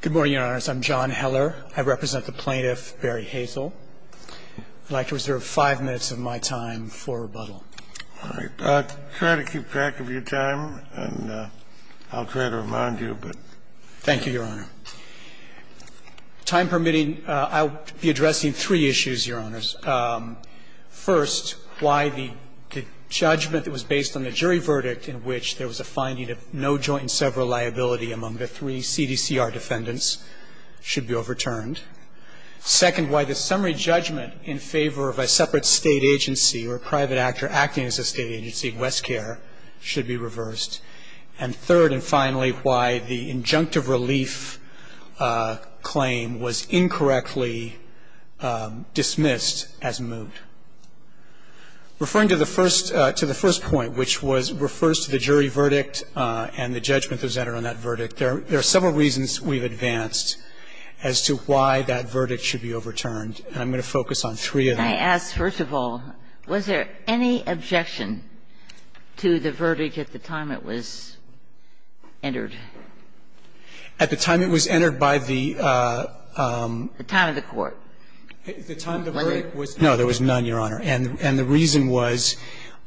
Good morning, Your Honors. I'm John Heller. I represent the plaintiff, Barry Hazle. I'd like to reserve five minutes of my time for rebuttal. All right. Try to keep track of your time, and I'll try to remind you. Thank you, Your Honor. Time permitting, I'll be addressing three issues, Your Honors. First, why the judgment that was based on the jury verdict in which there was a finding of no joint and several liability among the three CDCR defendants should be overturned. Second, why the summary judgment in favor of a separate state agency or private actor acting as a state agency, Westcare, should be reversed. And third and finally, why the injunctive relief claim was incorrectly dismissed as moot. Referring to the first point, which refers to the jury verdict and the judgment that was entered on that verdict, there are several reasons we've advanced as to why that verdict should be overturned, and I'm going to focus on three of them. I ask, first of all, was there any objection to the verdict at the time it was entered? At the time it was entered by the the time of the court? The time the verdict was? No, there was none, Your Honor. And the reason was,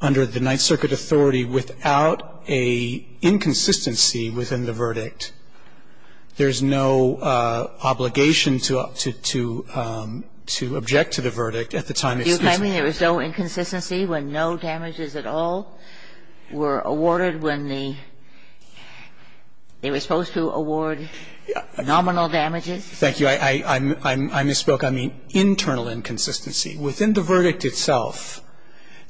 under the Ninth Circuit authority, without a inconsistency within the verdict, there's no obligation to object to the verdict at the time it's You're claiming there was no inconsistency when no damages at all were awarded when the they were supposed to award nominal damages? Thank you. I misspoke. I mean internal inconsistency. Within the verdict itself,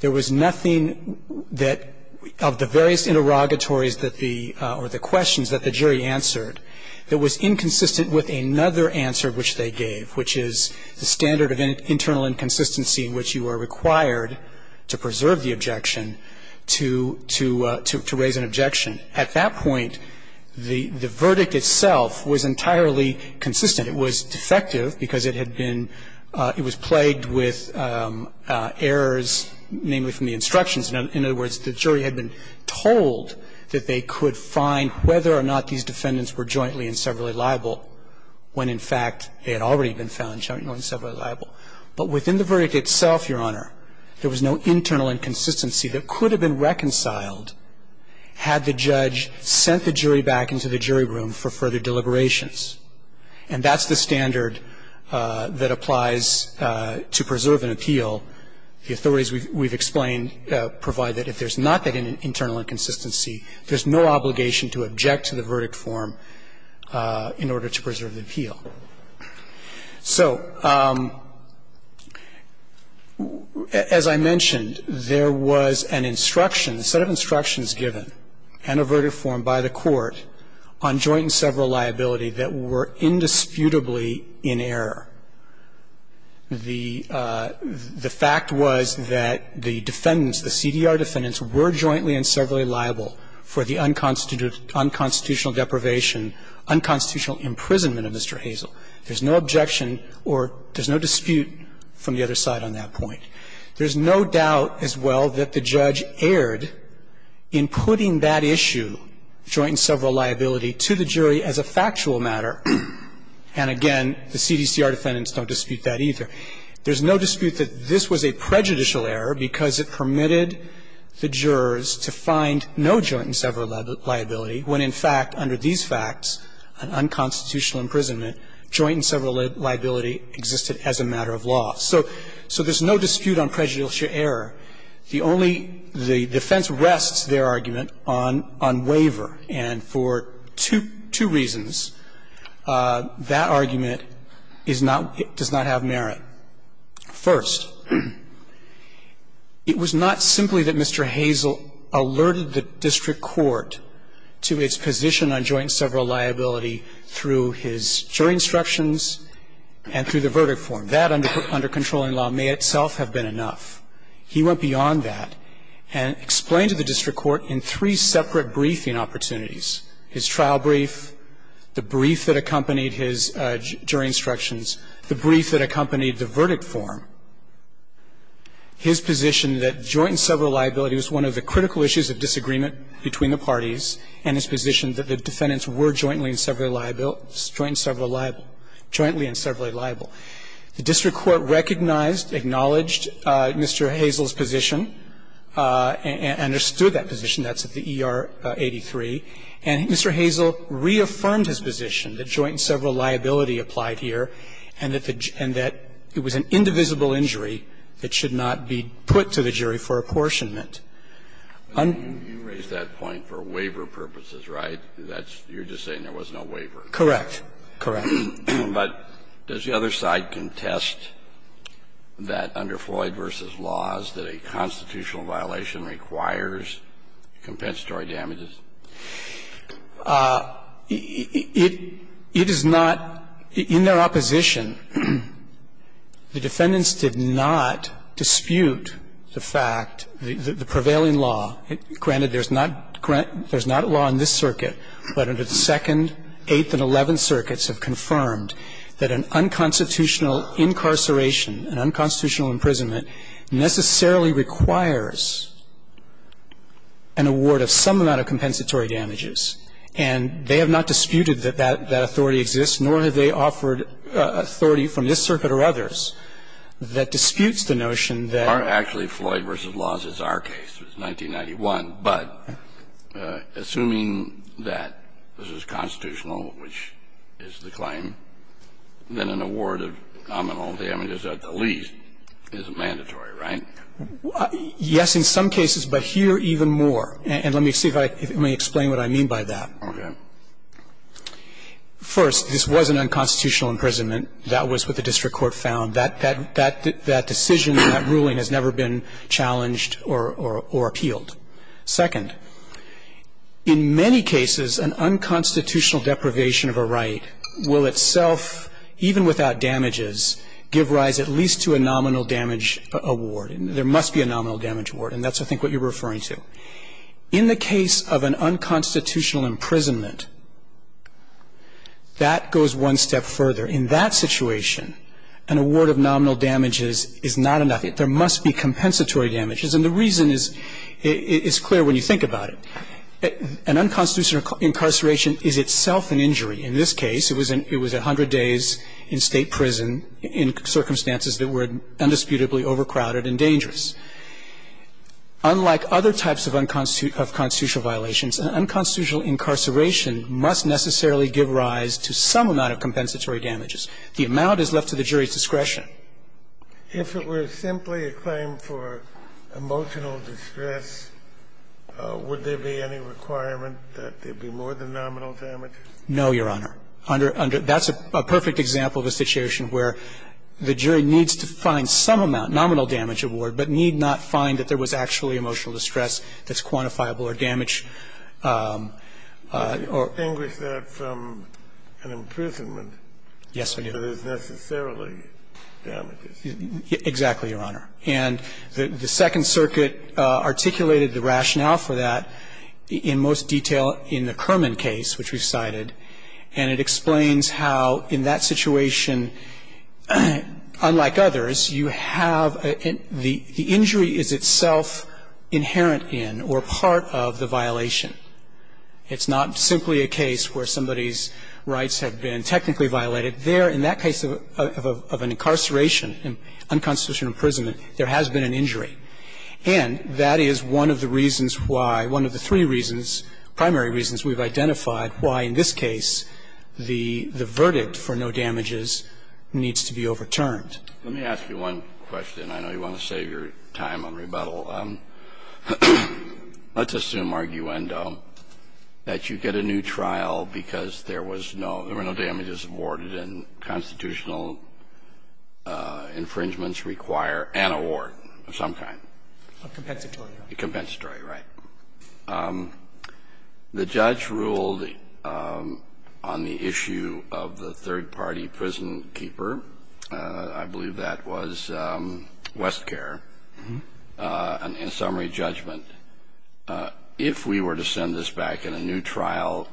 there was nothing that of the various interrogatories that the or the questions that the jury answered that was inconsistent with another answer which they gave, which is the standard of internal inconsistency in which you are required to preserve the objection to raise an objection. At that point, the verdict itself was entirely consistent. It was defective because it had been it was plagued with errors, namely from the instructions. In other words, the jury had been told that they could find whether or not these defendants were jointly and severally liable when, in fact, they had already been found jointly and severally liable. But within the verdict itself, Your Honor, there was no internal inconsistency that could have been reconciled had the judge sent the jury back into the jury room for further deliberations. And that's the standard that applies to preserve an appeal. The authorities we've explained provide that if there's not that internal inconsistency, there's no obligation to object to the verdict form in order to preserve the appeal. So as I mentioned, there was an instruction, a set of instructions given and a verdict form by the court on joint and sever liability that were indisputably in error. The fact was that the defendants, the CDR defendants, were jointly and severally liable for the unconstitutional deprivation, unconstitutional imprisonment of Mr. Hazell. There's no objection or there's no dispute from the other side on that point. There's no doubt as well that the judge erred in putting that issue, joint and sever liability, to the jury as a factual matter. And again, the CDCR defendants don't dispute that either. There's no dispute that this was a prejudicial error because it permitted the jurors to find no joint and sever liability when, in fact, under these facts, unconstitutional imprisonment, joint and sever liability existed as a matter of law. So there's no dispute on prejudicial error. The only the defense rests, their argument, on waiver. And for two reasons, that argument is not, does not have merit. First, it was not simply that Mr. Hazell alerted the district court to its position on joint and sever liability through his jury instructions and through the verdict form. That under controlling law may itself have been enough. He went beyond that and explained to the district court in three separate briefing opportunities, his trial brief, the brief that accompanied his jury instructions, the brief that accompanied the verdict form, his position that joint and sever liability was one of the critical issues of disagreement between the parties, and his position that the defendants were jointly and severly liable, jointly and severly liable. The district court recognized, acknowledged Mr. Hazell's position and understood that position. That's at the ER 83. And Mr. Hazell reaffirmed his position that joint and sever liability applied here and that it was an indivisible injury that should not be put to the jury for apportionment. Kennedy, you raised that point for waiver purposes, right? That's you're just saying there was no waiver. Correct. Correct. But does the other side contest that under Floyd v. Laws that a constitutional violation requires compensatory damages? It is not. In their opposition, the defendants did not dispute the fact, the prevailing law. Granted, there's not law in this circuit, but under the Second, Eighth, and Eleventh Circuits have confirmed that an unconstitutional incarceration, an unconstitutional imprisonment necessarily requires an award of some amount of compensatory damages. And I think that's a good point. The other side, under the Second, Eighth, and Eleventh Circuits, they offered authority from this circuit or others that disputes the notion that actually Floyd v. Laws is our case. It was 1991. But assuming that this is constitutional, which is the claim, then an award of nominal damages at the least is mandatory, right? Yes, in some cases, but here even more. And let me see if I can explain what I mean by that. First, this was an unconstitutional imprisonment. That was what the district court found. That decision, that ruling has never been challenged or appealed. Second, in many cases, an unconstitutional deprivation of a right will itself, even without damages, give rise at least to a nominal damage award. There must be a nominal damage award, and that's, I think, what you're referring to. In the case of an unconstitutional imprisonment, that goes one step further. In that situation, an award of nominal damages is not enough. There must be compensatory damages. And the reason is clear when you think about it. An unconstitutional incarceration is itself an injury. In this case, it was a hundred days in State prison in circumstances that were indisputably overcrowded and dangerous. Unlike other types of unconstitutional violations, an unconstitutional incarceration must necessarily give rise to some amount of compensatory damages. The amount is left to the jury's discretion. If it were simply a claim for emotional distress, would there be any requirement that there be more than nominal damages? No, Your Honor. That's a perfect example of a situation where the jury needs to find some amount, nominal damage award, but need not find that there was actually emotional distress that's quantifiable or damage. Or. Extinguish that from an imprisonment. Yes, I do. That is necessarily damages. Exactly, Your Honor. And the Second Circuit articulated the rationale for that in most detail in the Kerman case, which we've cited, and it explains how in that situation, unlike others, you have the injury is itself inherent in or part of the violation. It's not simply a case where somebody's rights have been technically violated. There, in that case of an incarceration, an unconstitutional imprisonment, there has been an injury. And that is one of the reasons why, one of the three reasons, primary reasons we've identified why in this case the verdict for no damages needs to be overturned. Let me ask you one question. I know you want to save your time on rebuttal. Let's assume, arguendo, that you get a new trial because there was no, there were no damages awarded and constitutional infringements require an award of some kind. A compensatory. A compensatory, right. The judge ruled on the issue of the third-party prison keeper. I believe that was Westcare, in summary judgment. If we were to send this back in a new trial,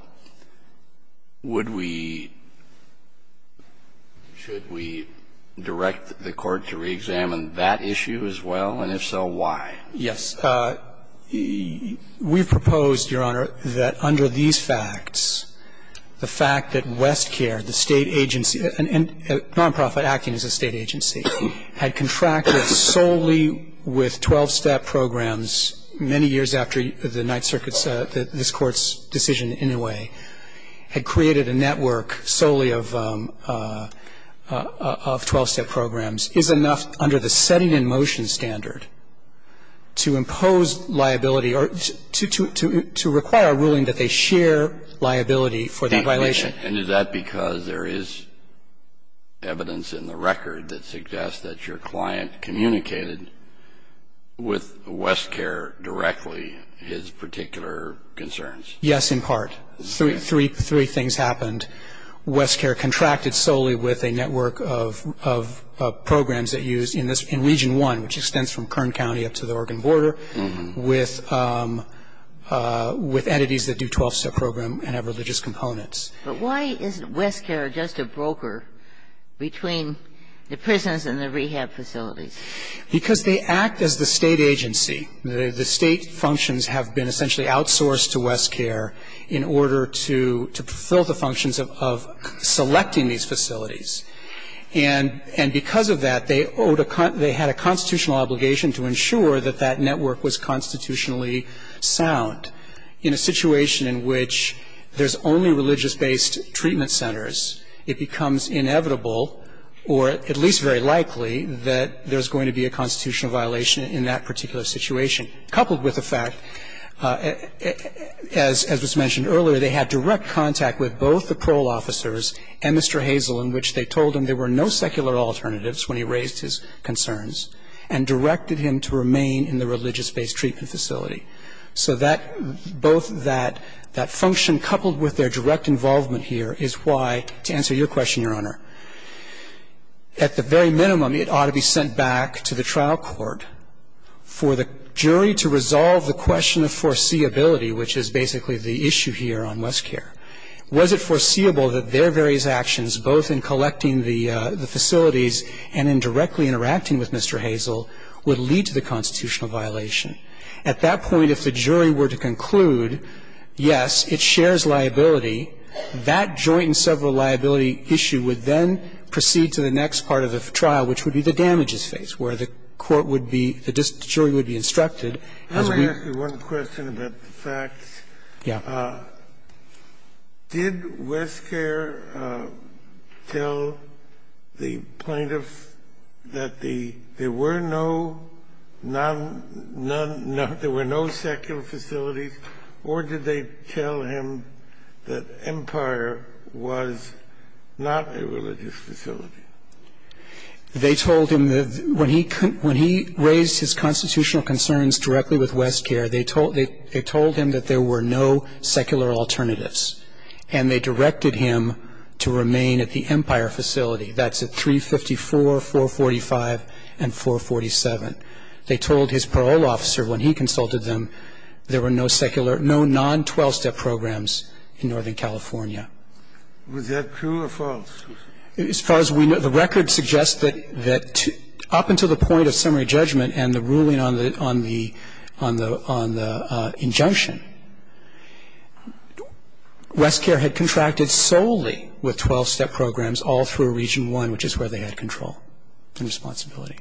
would we, should we direct the court to reexamine that issue as well, and if so, why? Yes. We've proposed, Your Honor, that under these facts, the fact that Westcare, the State agency, a nonprofit acting as a State agency, had contracted solely with 12-step programs many years after the Ninth Circuit's, this Court's decision in a way, had created a network solely of 12-step programs is enough under the setting in motion standard to impose liability or to, to require a ruling that they share liability for the violation. And is that because there is evidence in the record that suggests that your client communicated with Westcare directly his particular concerns? Yes, in part. Three, three things happened. First, Westcare contracted solely with a network of, of programs that used in this region one, which extends from Kern County up to the Oregon border, with, with entities that do 12-step program and have religious components. But why isn't Westcare just a broker between the prisons and the rehab facilities? Because they act as the State agency. The State functions have been essentially outsourced to Westcare in order to, to fulfill the functions of, of selecting these facilities. And, and because of that, they owed a, they had a constitutional obligation to ensure that that network was constitutionally sound. In a situation in which there's only religious-based treatment centers, it becomes inevitable or at least very likely that there's going to be a constitutional violation in that particular situation, coupled with the fact, as, as was mentioned earlier, they had direct contact with both the parole officers and Mr. Hazel, in which they told him there were no secular alternatives when he raised his concerns and directed him to remain in the religious-based treatment facility. So that, both that, that function coupled with their direct involvement here is why, to answer your question, Your Honor, at the very minimum it ought to be sent back to the trial court for the jury to resolve the question of foreseeability, which is basically the issue here on Westcare. Was it foreseeable that their various actions, both in collecting the, the facilities and in directly interacting with Mr. Hazel, would lead to the constitutional violation? At that point, if the jury were to conclude, yes, it shares liability, that joint and several liability issue would then proceed to the next part of the trial, which would be the damages phase, where the court would be, the jury would be instructed as we. Kennedy, I want to ask you one question about the facts. Yeah. Did Westcare tell the plaintiffs that the, there were no non, non, non, there were no secular facilities, or did they tell him that Empire was not a religious facility? They told him that when he, when he raised his constitutional concerns directly with Westcare, they told, they told him that there were no secular alternatives, and they directed him to remain at the Empire facility. That's at 354, 445, and 447. They told his parole officer when he consulted them there were no secular, no non-12 step programs in Northern California. Was that true or false? As far as we know, the record suggests that, that up until the point of summary judgment and the ruling on the, on the, on the injunction, Westcare had contracted solely with 12-step programs all through Region I, which is where they had control and responsibility.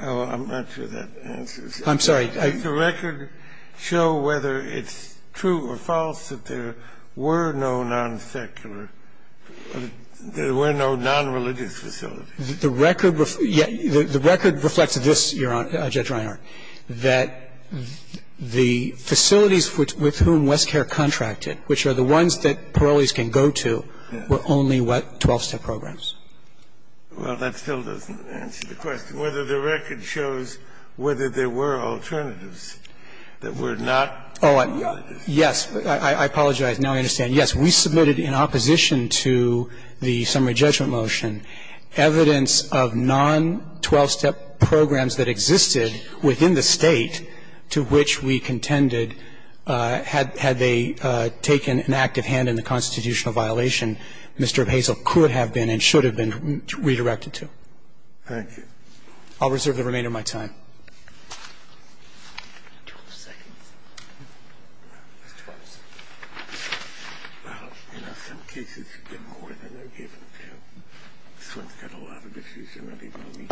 I'm not sure that answers. I'm sorry. Did the record show whether it's true or false that there were no non-secular facilities? There were no non-religious facilities. The record reflects this, Your Honor, Judge Reinhart, that the facilities with whom Westcare contracted, which are the ones that parolees can go to, were only what, 12-step programs. Well, that still doesn't answer the question. Whether the record shows whether there were alternatives that were not non-religious. Oh, yes. I apologize. Now I understand. Yes, we submitted in opposition to the summary judgment motion evidence of non-12-step programs that existed within the State to which we contended had they taken an active hand in the constitutional violation. Mr. Hazell could have been and should have been redirected to. Thank you. I'll reserve the remainder of my time. 12 seconds. Well, in some cases, you get more than they're given, too. This one's got a lot of issues already for me.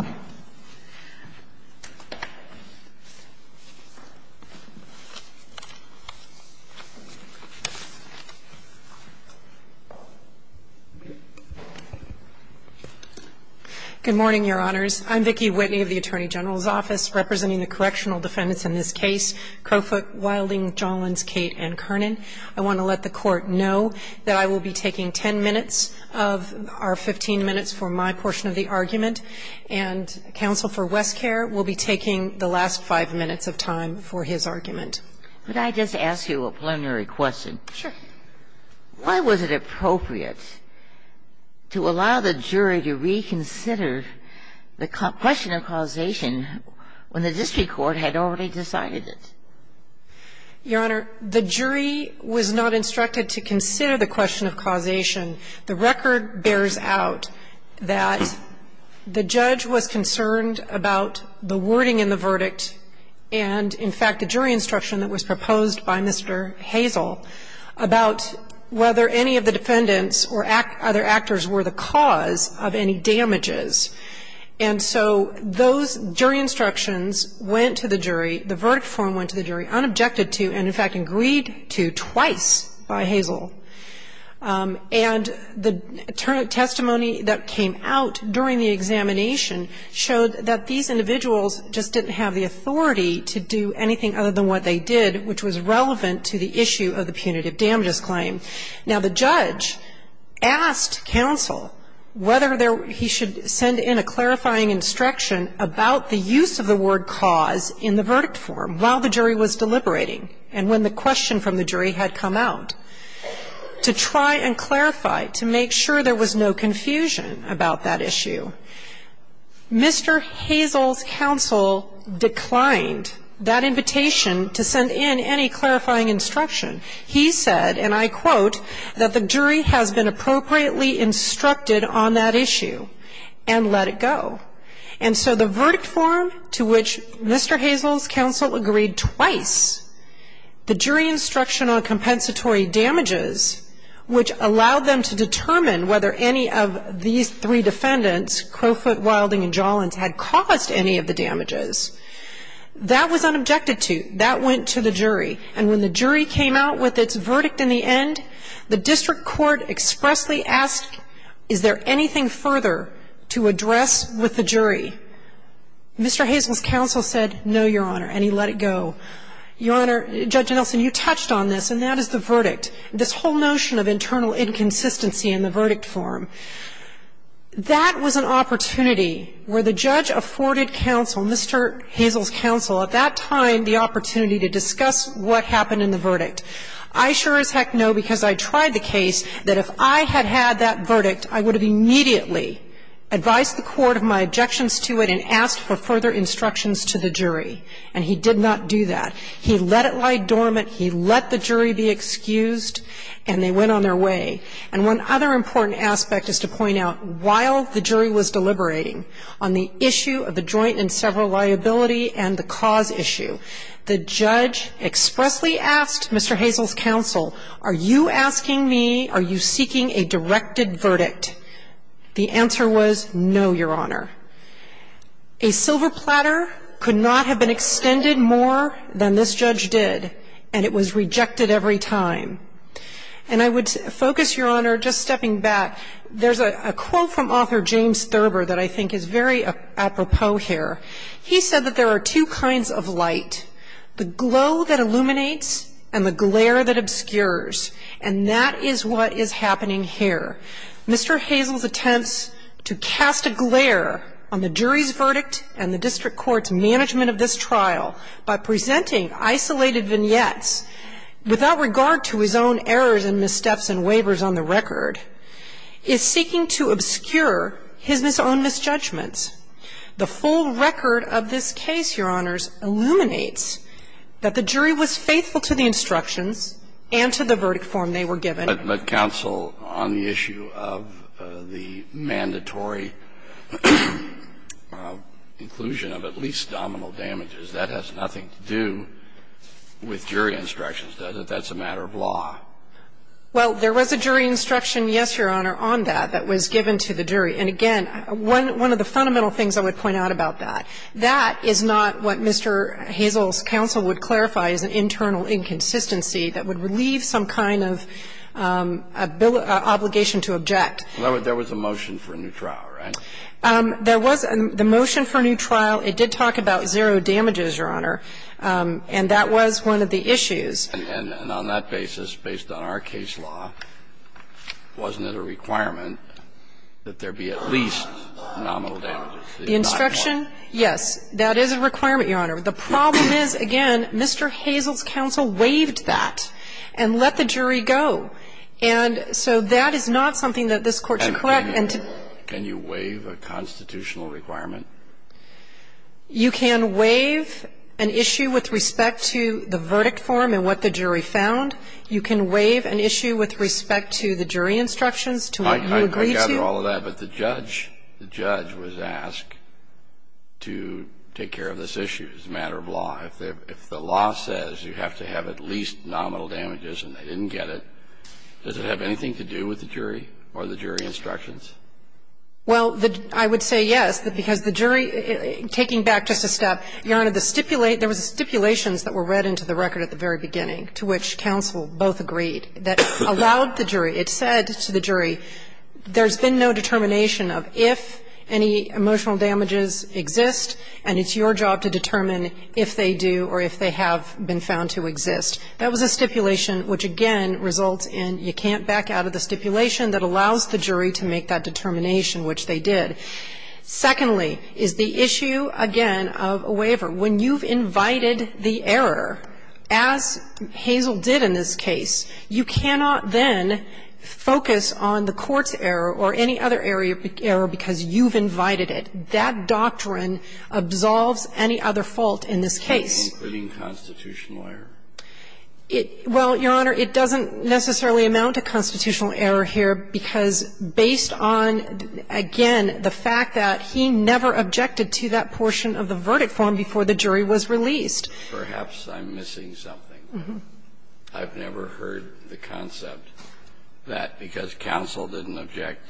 Good morning, Your Honors. I'm Vicki Whitney of the Attorney General's Office, representing the correctional defendants in this case, Crowfoot, Wilding, Jollins, Cate, and Kernan. I want to let the Court know that I will be taking 10 minutes of our 15 minutes for my portion of the argument, and counsel for Westcare will be taking the last five minutes of time for his argument. Could I just ask you a preliminary question? Sure. Why was it appropriate to allow the jury to reconsider the question of causation when the district court had already decided it? Your Honor, the jury was not instructed to consider the question of causation. The record bears out that the judge was concerned about the wording in the verdict and, in fact, the jury instruction that was proposed by Mr. Hazel about whether any of the defendants or other actors were the cause of any damages. And so those jury instructions went to the jury, the verdict form went to the jury unobjected to and, in fact, agreed to twice by Hazel. And the testimony that came out during the examination showed that these individuals just didn't have the authority to do anything other than what they did, which was relevant to the issue of the punitive damages claim. Now, the judge asked counsel whether there he should send in a clarifying instruction about the use of the word cause in the verdict form while the jury was deliberating and when the question from the jury had come out to try and clarify to make sure there was no confusion about that issue. Mr. Hazel's counsel declined that invitation to send in any clarifying instruction. He said, and I quote, that the jury has been appropriately instructed on that issue and let it go. And so the verdict form to which Mr. Hazel's counsel agreed twice, the jury instruction on compensatory damages, which allowed them to determine whether any of these three defendants, Crowfoot, Wilding and Jollins, had caused any of the damages, that was unobjected to. That went to the jury. And when the jury came out with its verdict in the end, the district court expressly asked, is there anything further to address with the jury? Mr. Hazel's counsel said, no, Your Honor, and he let it go. Your Honor, Judge Nelson, you touched on this, and that is the verdict. This whole notion of internal inconsistency in the verdict form. That was an opportunity where the judge afforded counsel, Mr. Hazel's counsel, at that time the opportunity to discuss what happened in the verdict. I sure as heck know, because I tried the case, that if I had had that verdict, I would have immediately advised the court of my objections to it and asked for further explanation. And the judge did that. He let it lie dormant. He let the jury be excused, and they went on their way. And one other important aspect is to point out, while the jury was deliberating on the issue of the joint and several liability and the cause issue, the judge expressly asked Mr. Hazel's counsel, are you asking me, are you seeking a directed verdict? The answer was, no, Your Honor. A silver platter could not have been extended more than this judge did, and it was rejected every time. And I would focus, Your Honor, just stepping back, there's a quote from author James Thurber that I think is very apropos here. He said that there are two kinds of light, the glow that illuminates and the glare that obscures. And that is what is happening here. Mr. Hazel's attempts to cast a glare on the jury's verdict and the district court's management of this trial by presenting isolated vignettes without regard to his own errors and missteps and waivers on the record is seeking to obscure his own misjudgments. The full record of this case, Your Honors, illuminates that the jury was faithful to the instructions and to the verdict form they were given. But counsel, on the issue of the mandatory inclusion of at least domino damages, that has nothing to do with jury instructions, does it? That's a matter of law. Well, there was a jury instruction, yes, Your Honor, on that, that was given to the jury. And again, one of the fundamental things I would point out about that, that is not what Mr. Hazel's counsel would clarify as an internal inconsistency that would relieve some kind of obligation to object. There was a motion for a new trial, right? There was a motion for a new trial. It did talk about zero damages, Your Honor, and that was one of the issues. And on that basis, based on our case law, wasn't it a requirement that there be at least nominal damages? The instruction, yes, that is a requirement, Your Honor. The problem is, again, Mr. Hazel's counsel waived that and let the jury go. And so that is not something that this Court should correct. Can you waive a constitutional requirement? You can waive an issue with respect to the verdict form and what the jury found. You can waive an issue with respect to the jury instructions, to what you agree I gather all of that. But the judge, the judge was asked to take care of this issue as a matter of law. If the law says you have to have at least nominal damages and they didn't get it, does it have anything to do with the jury or the jury instructions? Well, I would say yes, because the jury, taking back just a step, Your Honor, there was stipulations that were read into the record at the very beginning, to which counsel both agreed, that allowed the jury. It said to the jury, there's been no determination of if any emotional damages exist, and it's your job to determine if they do or if they have been found to exist. That was a stipulation which, again, results in you can't back out of the stipulation that allows the jury to make that determination, which they did. Secondly, is the issue, again, of a waiver. When you've invited the error, as Hazel did in this case, you cannot then have a waiver focus on the court's error or any other error because you've invited it. That doctrine absolves any other fault in this case. Including constitutional error? Well, Your Honor, it doesn't necessarily amount to constitutional error here, because based on, again, the fact that he never objected to that portion of the verdict form before the jury was released. Perhaps I'm missing something. I've never heard the concept. That because counsel didn't object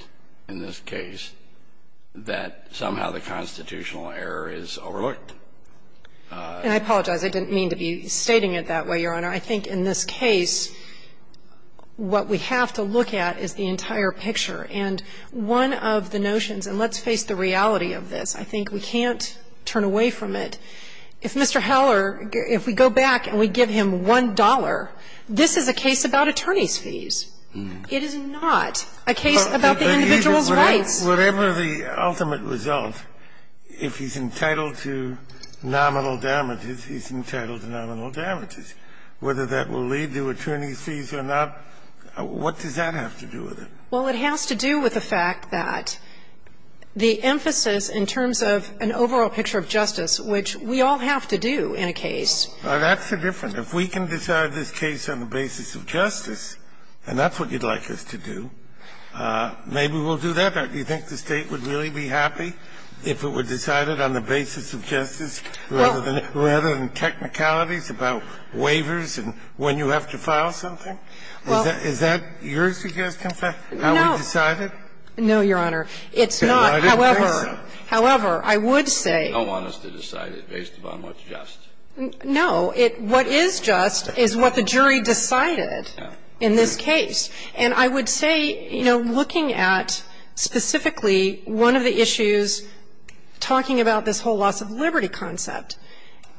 in this case, that somehow the constitutional error is overlooked. And I apologize. I didn't mean to be stating it that way, Your Honor. I think in this case, what we have to look at is the entire picture. And one of the notions, and let's face the reality of this. I think we can't turn away from it. If Mr. Heller, if we go back and we give him $1, this is a case about attorney's fees. It is not a case about the individual's rights. But even whatever the ultimate result, if he's entitled to nominal damages, he's entitled to nominal damages. Whether that will lead to attorney's fees or not, what does that have to do with it? Well, it has to do with the fact that the emphasis in terms of an overall picture of justice, which we all have to do in a case. Well, that's the difference. If we can decide this case on the basis of justice, and that's what you'd like us to do, maybe we'll do that. Do you think the State would really be happy if it were decided on the basis of justice rather than technicalities about waivers and when you have to file something? Is that your suggestion, how we decide it? No, Your Honor. It's not. However, I would say. They don't want us to decide it based upon what's just. No. What is just is what the jury decided in this case. And I would say, you know, looking at specifically one of the issues, talking about this whole loss of liberty concept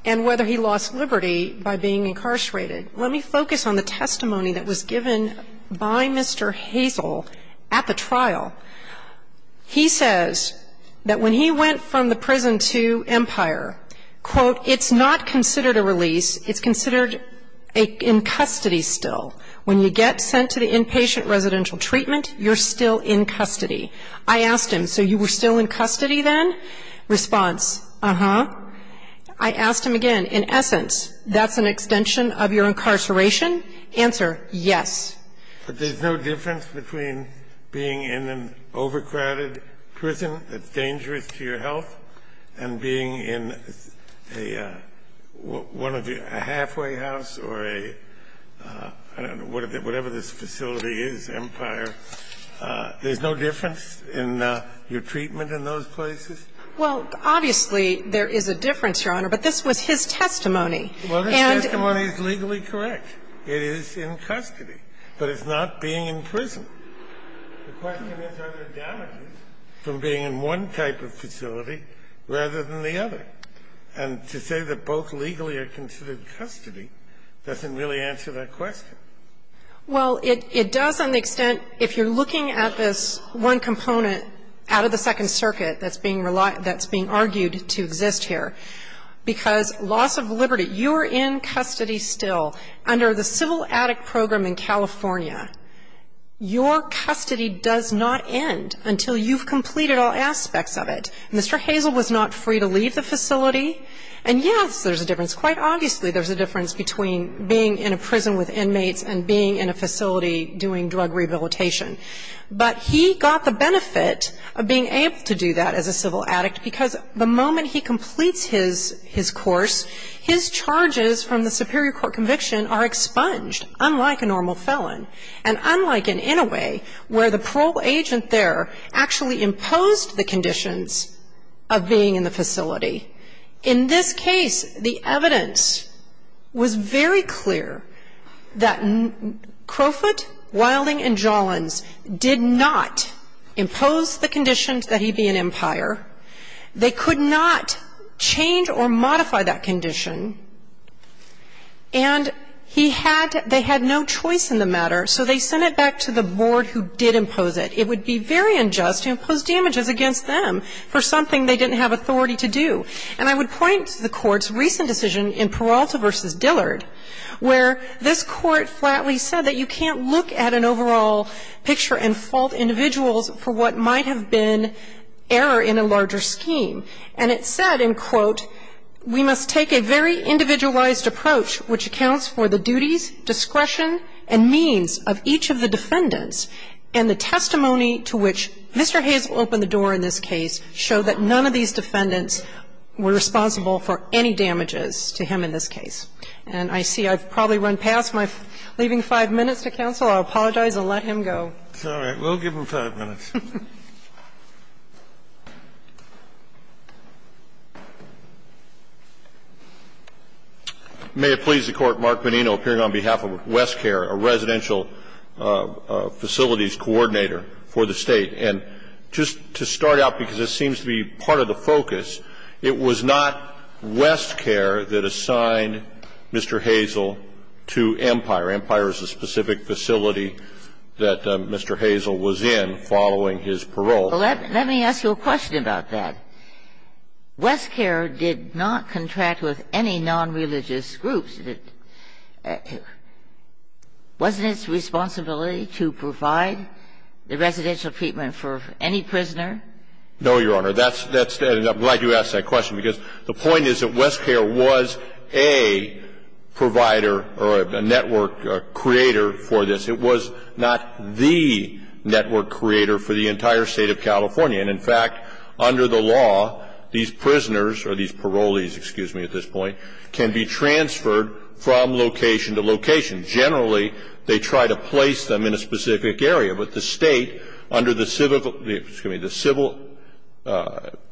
and whether he lost liberty by being incarcerated, let me focus on the testimony that was given by Mr. Hazel at the trial. He says that when he went from the prison to Empire, quote, it's not considered a release. It's considered in custody still. When you get sent to the inpatient residential treatment, you're still in custody. I asked him, so you were still in custody then? Response, uh-huh. I asked him again, in essence, that's an extension of your incarceration? Answer, yes. Well, obviously, there is a difference, Your Honor, but this was his testimony. Well, his testimony is legally correct. It is in custody, but it's not being in prison. The question is, are there damages from being in one type of facility, and not in another facility, rather than the other? And to say that both legally are considered custody doesn't really answer that question. Well, it does on the extent, if you're looking at this one component out of the Second Circuit that's being argued to exist here, because loss of liberty, you're in custody still. Under the civil addict program in California, your custody does not end until you've Mr. Hazel was not free to leave the facility, and yes, there's a difference. Quite obviously, there's a difference between being in a prison with inmates and being in a facility doing drug rehabilitation. But he got the benefit of being able to do that as a civil addict, because the moment he completes his course, his charges from the superior court conviction are expunged, unlike a normal felon, and unlike in Inouye, where the parole agent there actually imposed the conditions of being in the facility. In this case, the evidence was very clear that Crowfoot, Wilding, and Jollins did not impose the conditions that he be an impire. They could not change or modify that condition, and he had to – they had no choice in the matter, so they sent it back to the board who did impose it. It would be very unjust to impose damages against them for something they didn't have authority to do. And I would point to the Court's recent decision in Peralta v. Dillard, where this Court flatly said that you can't look at an overall picture and fault individuals for what might have been error in a larger scheme. And it said, and quote, We must take a very individualized approach which accounts for the duties, discretion, and means of each of the defendants, and the testimony to which Mr. Hazel opened the door in this case showed that none of these defendants were responsible for any damages to him in this case. And I see I've probably run past my leaving five minutes to counsel. I'll apologize and let him go. Kennedy, it's all right, we'll give him five minutes. May it please the Court, Mark Bonino, appearing on behalf of West Coast Law Enforcement and the Department of Homeland Security, I would like to ask you about WestCare, a residential facilities coordinator for the State. And just to start out, because this seems to be part of the focus, it was not WestCare that assigned Mr. Hazel to Empire. Empire is a specific facility that Mr. Hazel was in following his parole. Well, let me ask you a question about that. WestCare did not contract with any nonreligious groups. Wasn't its responsibility to provide the residential treatment for any prisoner? No, Your Honor. That's the end. I'm glad you asked that question, because the point is that WestCare was a provider or a network creator for this. It was not the network creator for the entire State of California. And in fact, under the law, these prisoners, or these parolees, excuse me, at this point, can be transferred from location to location. Generally, they try to place them in a specific area. But the State, under the civil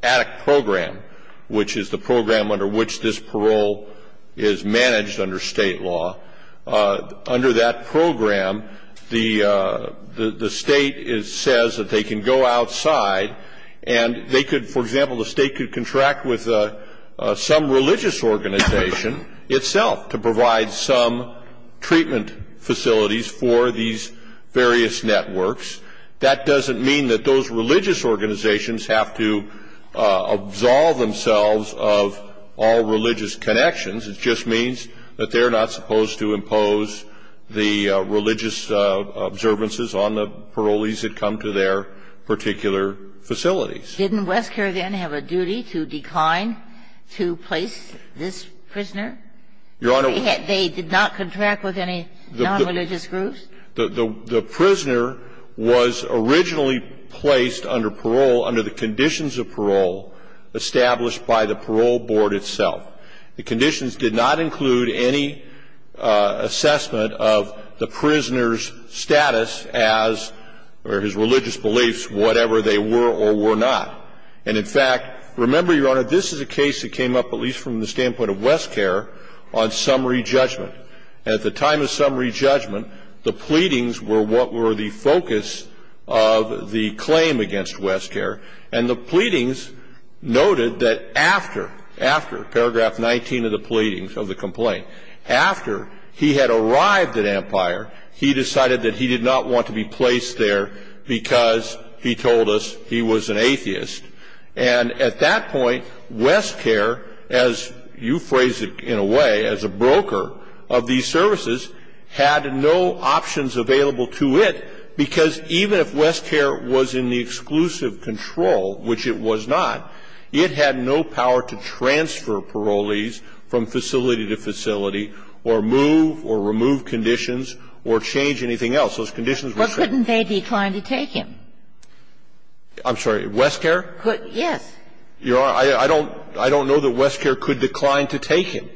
attic program, which is the program under which this organization operates, the State says that they can go outside and they could for example, the State could contract with some religious organization itself to provide some treatment facilities for these various networks. That doesn't mean that those religious organizations have to absolve themselves of all religious connections. It just means that they're not supposed to impose the religious observances on the parolees that come to their particular facilities. Didn't WestCare then have a duty to decline to place this prisoner? Your Honor. They did not contract with any nonreligious groups? The prisoner was originally placed under parole under the conditions of parole established by the parole board itself. The conditions did not include any assessment of the prisoner's status as, or his religious beliefs, whatever they were or were not. And in fact, remember, Your Honor, this is a case that came up at least from the standpoint of WestCare on summary judgment. At the time of summary judgment, the pleadings were what were the focus of the claim against WestCare. And the pleadings noted that after, after paragraph 19 of the pleadings of the complaint, after he had arrived at Empire, he decided that he did not want to be placed there because, he told us, he was an atheist. And at that point, WestCare, as you phrased it in a way, as a broker of these services, had no options available to it, because even if WestCare was in the exclusive control, which it was not, it had no power to transfer parolees from facility to facility or move or remove conditions or change anything else. Those conditions were set. What couldn't they decline to take him? I'm sorry. WestCare? Yes. Your Honor, I don't know that WestCare could decline to take him.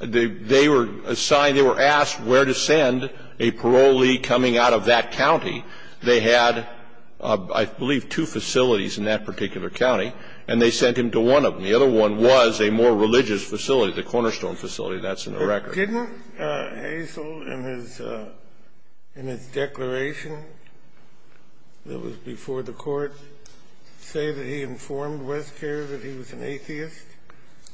They were assigned, they were asked where to send a parolee coming out of that county. They had, I believe, two facilities in that particular county, and they sent him to one of them. The other one was a more religious facility, the Cornerstone facility. That's in the record. Didn't Hazell, in his, in his declaration that was before the Court, say that he informed WestCare that he was an atheist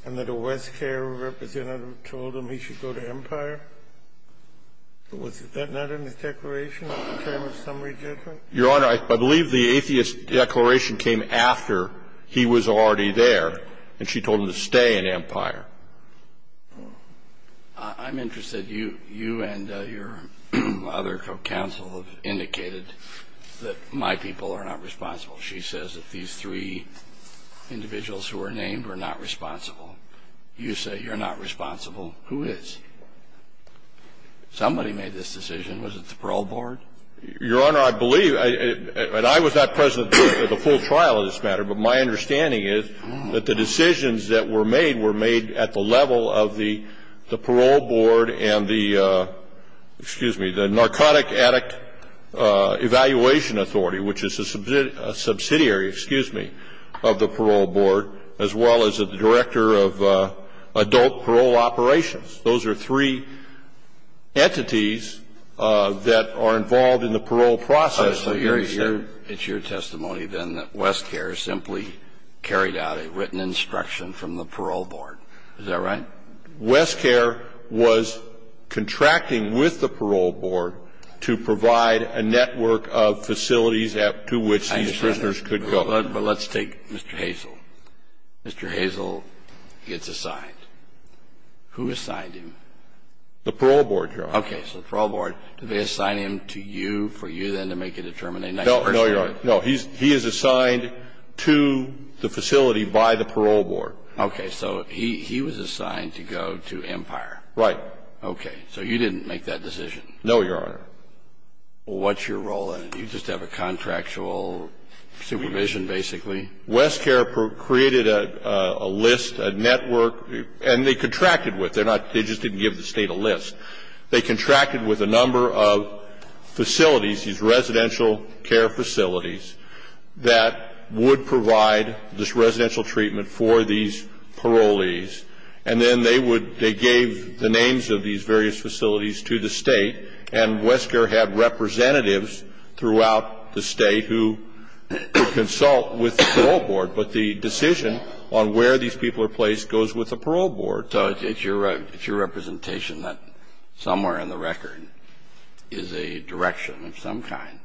and that a WestCare representative told him he should go to Empire? Was that not in his declaration, the term of summary judgment? Your Honor, I believe the atheist declaration came after he was already there, and she told him to stay in Empire. I'm interested. You and your other counsel have indicated that my people are not responsible. She says that these three individuals who are named are not responsible. You say you're not responsible. Who is? Somebody made this decision. Was it the parole board? Your Honor, I believe, and I was not present at the full trial in this matter, but my understanding is that the decisions that were made were made at the level of the parole board and the, excuse me, the Narcotic Addict Evaluation Authority, which is a subsidiary, excuse me, of the parole board, as well as the director of adult parole operations. Those are three entities that are involved in the parole process. So you're saying it's your testimony, then, that WestCare simply carried out a written instruction from the parole board. Is that right? WestCare was contracting with the parole board to provide a network of facilities to which these prisoners could go. I understand that, but let's take Mr. Hazel. Mr. Hazel gets assigned. Who assigned him? The parole board, Your Honor. Okay. So the parole board, did they assign him to you for you, then, to make a determination? No, Your Honor. No. He is assigned to the facility by the parole board. Okay. So he was assigned to go to Empire. Right. Okay. So you didn't make that decision. No, Your Honor. What's your role in it? You just have a contractual supervision, basically. WestCare created a list, a network, and they contracted with. They're not they just didn't give the State a list. They contracted with a number of facilities, these residential care facilities, that would provide this residential treatment for these parolees. And then they would, they gave the names of these various facilities to the State. And WestCare had representatives throughout the State who would consult with the parole board. But the decision on where these people are placed goes with the parole board. So it's your representation that somewhere in the record is a direction of some kind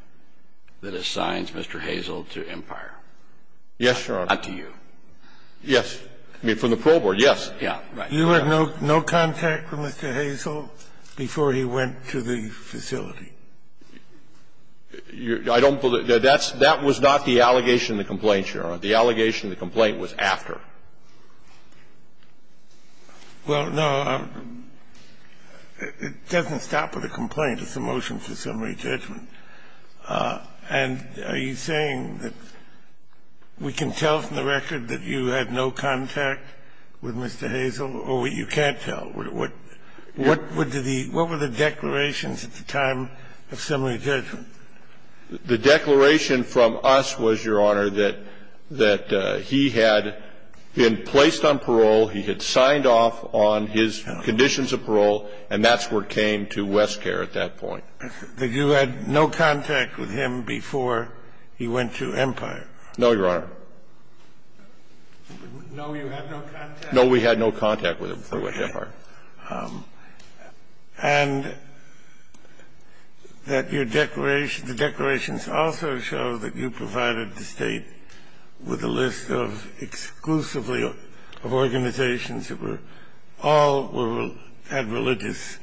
that assigns Mr. Hazel to Empire. Yes, Your Honor. Not to you. Yes. I mean, from the parole board, yes. Yeah, right. You had no contact with Mr. Hazel before he went to the facility. I don't believe that. That's not the allegation in the complaint, Your Honor. The allegation in the complaint was after. Well, no, it doesn't stop with a complaint. It's a motion for summary judgment. And are you saying that we can tell from the record that you had no contact with Mr. Hazel, or you can't tell? What were the declarations at the time of summary judgment? The declaration from us was, Your Honor, that he had been placed on parole. He had signed off on his conditions of parole, and that's where it came to WestCare at that point. That you had no contact with him before he went to Empire. No, Your Honor. No, you had no contact? No, we had no contact with him before he went to Empire. And that your declaration the declarations also show that you provided the State with a list of exclusively of organizations that were all had religious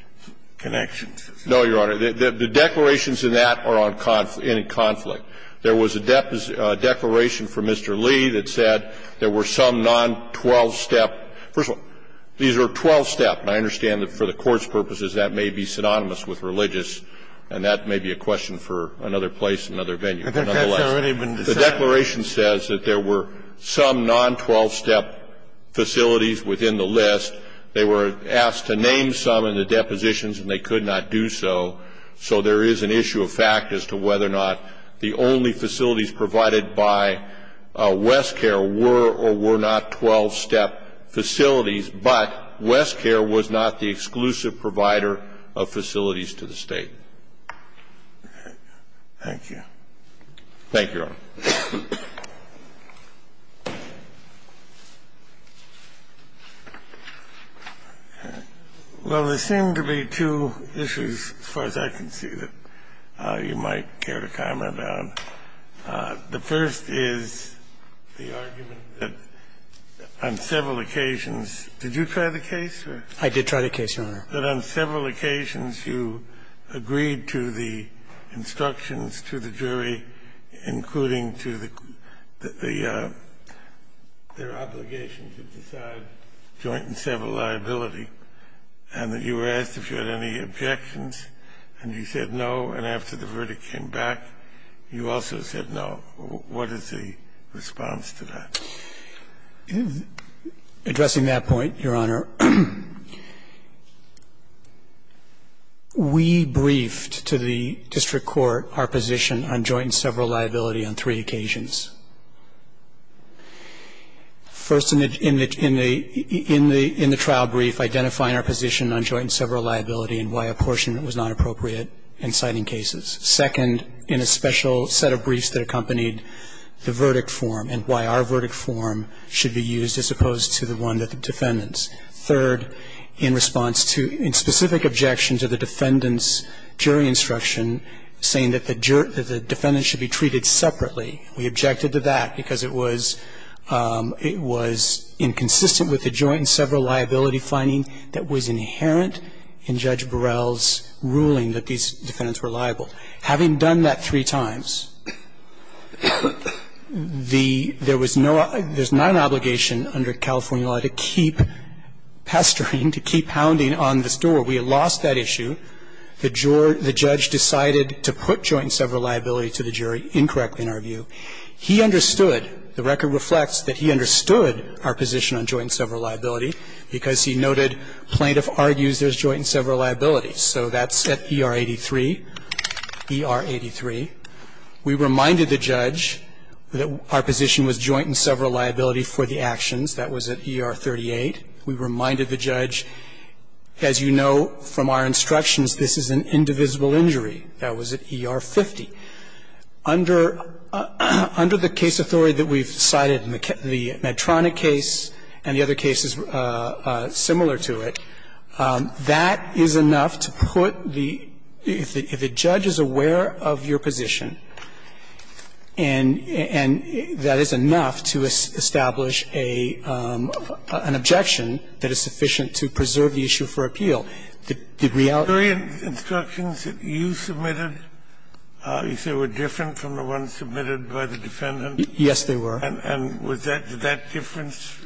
connections. No, Your Honor. The declarations in that are in conflict. There was a declaration for Mr. Lee that said there were some non-twelve-step First of all, these are twelve-step, and I understand that for the Court's purposes that may be synonymous with religious, and that may be a question for another place, another venue. The declaration says that there were some non-twelve-step facilities within the list. They were asked to name some in the depositions, and they could not do so. So there is an issue of fact as to whether or not the only facilities provided by WestCare were or were not twelve-step facilities, but WestCare was not the exclusive provider of facilities to the State. Thank you. Thank you, Your Honor. I have a couple of questions, as far as I can see, that you might care to comment on. The first is the argument that on several occasions you agreed to the instructions to the jury, including to the their obligation to decide joint and several liability, and that you were asked if you had any objections, and you said no, and after the verdict came back, you also said no. What is the response to that? Addressing that point, Your Honor, we briefed to the district court our position on joint and several liability on three occasions. First, in the trial brief, identifying our position on joint and several liability and why apportionment was not appropriate in citing cases. Second, in a special set of briefs that accompanied the verdict form and why our verdict form should be used as opposed to the one that the defendants. Third, in response to specific objections of the defendants' jury instruction, saying that the defendants should be treated separately, we objected to that because it was inconsistent with the joint and several liability finding that was inherent in Judge Burrell's ruling that these defendants were liable. Having done that three times, there was no – there's not an obligation under California law to keep pestering, to keep hounding on this door. We lost that issue. The jury – the judge decided to put joint and several liability to the jury incorrectly, in our view. He understood – the record reflects that he understood our position on joint and several liability because he noted plaintiff argues there's joint and several liability. So that's at ER 83, ER 83. We reminded the judge that our position was joint and several liability for the actions. That was at ER 38. We reminded the judge, as you know from our instructions, this is an indivisible injury. That was at ER 50. Under the case authority that we've cited in the Medtronic case and the other cases similar to it, that is enough to put the – if the judge is aware of your position that is sufficient to preserve the issue for appeal. The reality of the case is that the jury's instructions that you submitted you say were different from the ones submitted by the defendant? Yes, they were. And was that – did that difference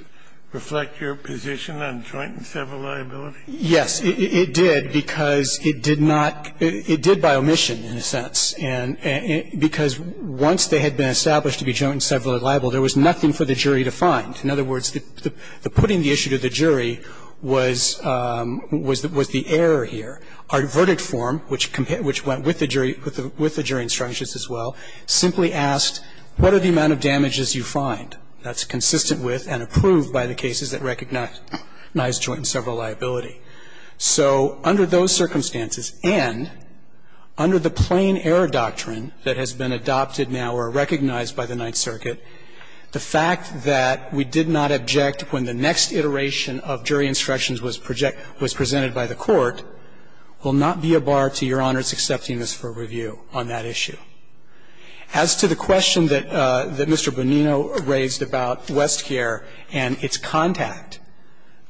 reflect your position on joint and several liability? Yes, it did, because it did not – it did by omission, in a sense, because once they had been established to be joint and several liable, there was nothing for the jury to find. In other words, the putting the issue to the jury was the error here. Our verdict form, which went with the jury instructions as well, simply asked what are the amount of damages you find. That's consistent with and approved by the cases that recognize joint and several liability. So under those circumstances and under the plain error doctrine that has been adopted now or recognized by the Ninth Circuit, the fact that we did not object when the next iteration of jury instructions was presented by the Court will not be a bar to Your Honor's accepting us for review on that issue. As to the question that Mr. Bonino raised about Westcare and its contact,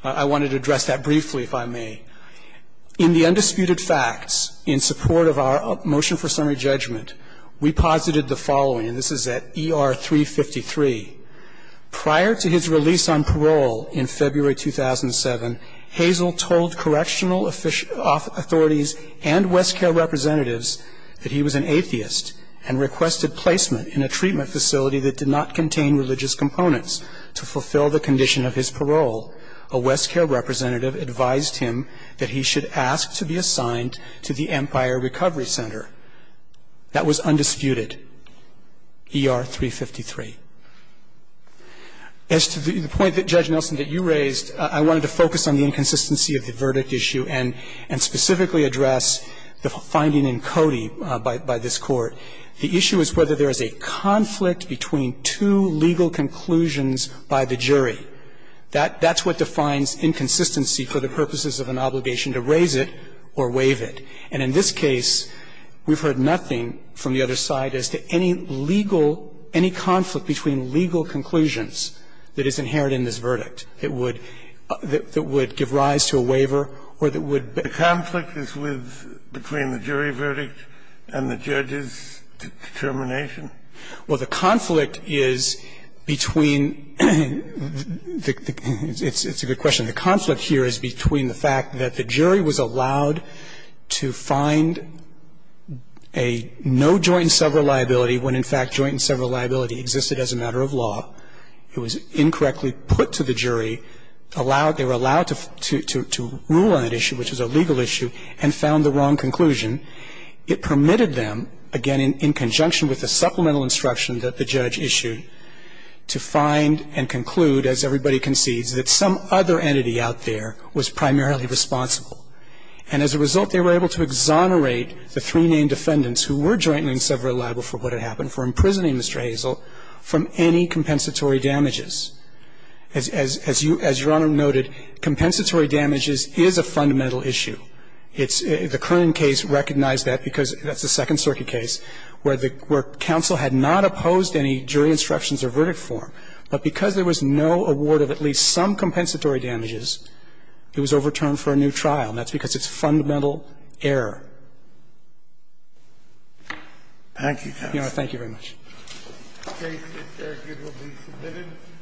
I wanted to address that briefly, if I may. In the undisputed facts, in support of our motion for summary judgment, we posited the following, and this is at ER 353, prior to his release on parole in February 2007, Hazel told correctional authorities and Westcare representatives that he was an atheist and requested placement in a treatment facility that did not contain religious components to fulfill the condition of his parole. A Westcare representative advised him that he should ask to be assigned to the Empire Recovery Center. That was undisputed, ER 353. As to the point that, Judge Nelson, that you raised, I wanted to focus on the inconsistency of the verdict issue and specifically address the finding in Cody by this Court. The issue is whether there is a conflict between two legal conclusions by the jury. That's what defines inconsistency for the purposes of an obligation to raise it or waive it. And in this case, we've heard nothing from the other side as to any legal, any conflict between legal conclusions that is inherent in this verdict that would give rise to a waiver or that would be. The conflict is with, between the jury verdict and the judge's determination? Well, the conflict is between the – it's a good question. The conflict here is between the fact that the jury was allowed to find a no joint and several liability when, in fact, joint and several liability existed as a matter of law. It was incorrectly put to the jury, allowed – they were allowed to rule on that issue, which is a legal issue, and found the wrong conclusion. It permitted them, again, in conjunction with the supplemental instruction that the And as a result, they were able to exonerate the three named defendants who were joint and several liable for what had happened, for imprisoning Mr. Hazell from any compensatory damages. As Your Honor noted, compensatory damages is a fundamental issue. It's – the Kernan case recognized that because that's a Second Circuit case where the – where counsel had not opposed any jury instructions or verdict form. But because there was no award of at least some compensatory damages, the jury was able to exonerate Mr. Hazell from any compensatory damages. It was overturned for a new trial. And that's because it's fundamental error. Thank you, Your Honor. Thank you very much.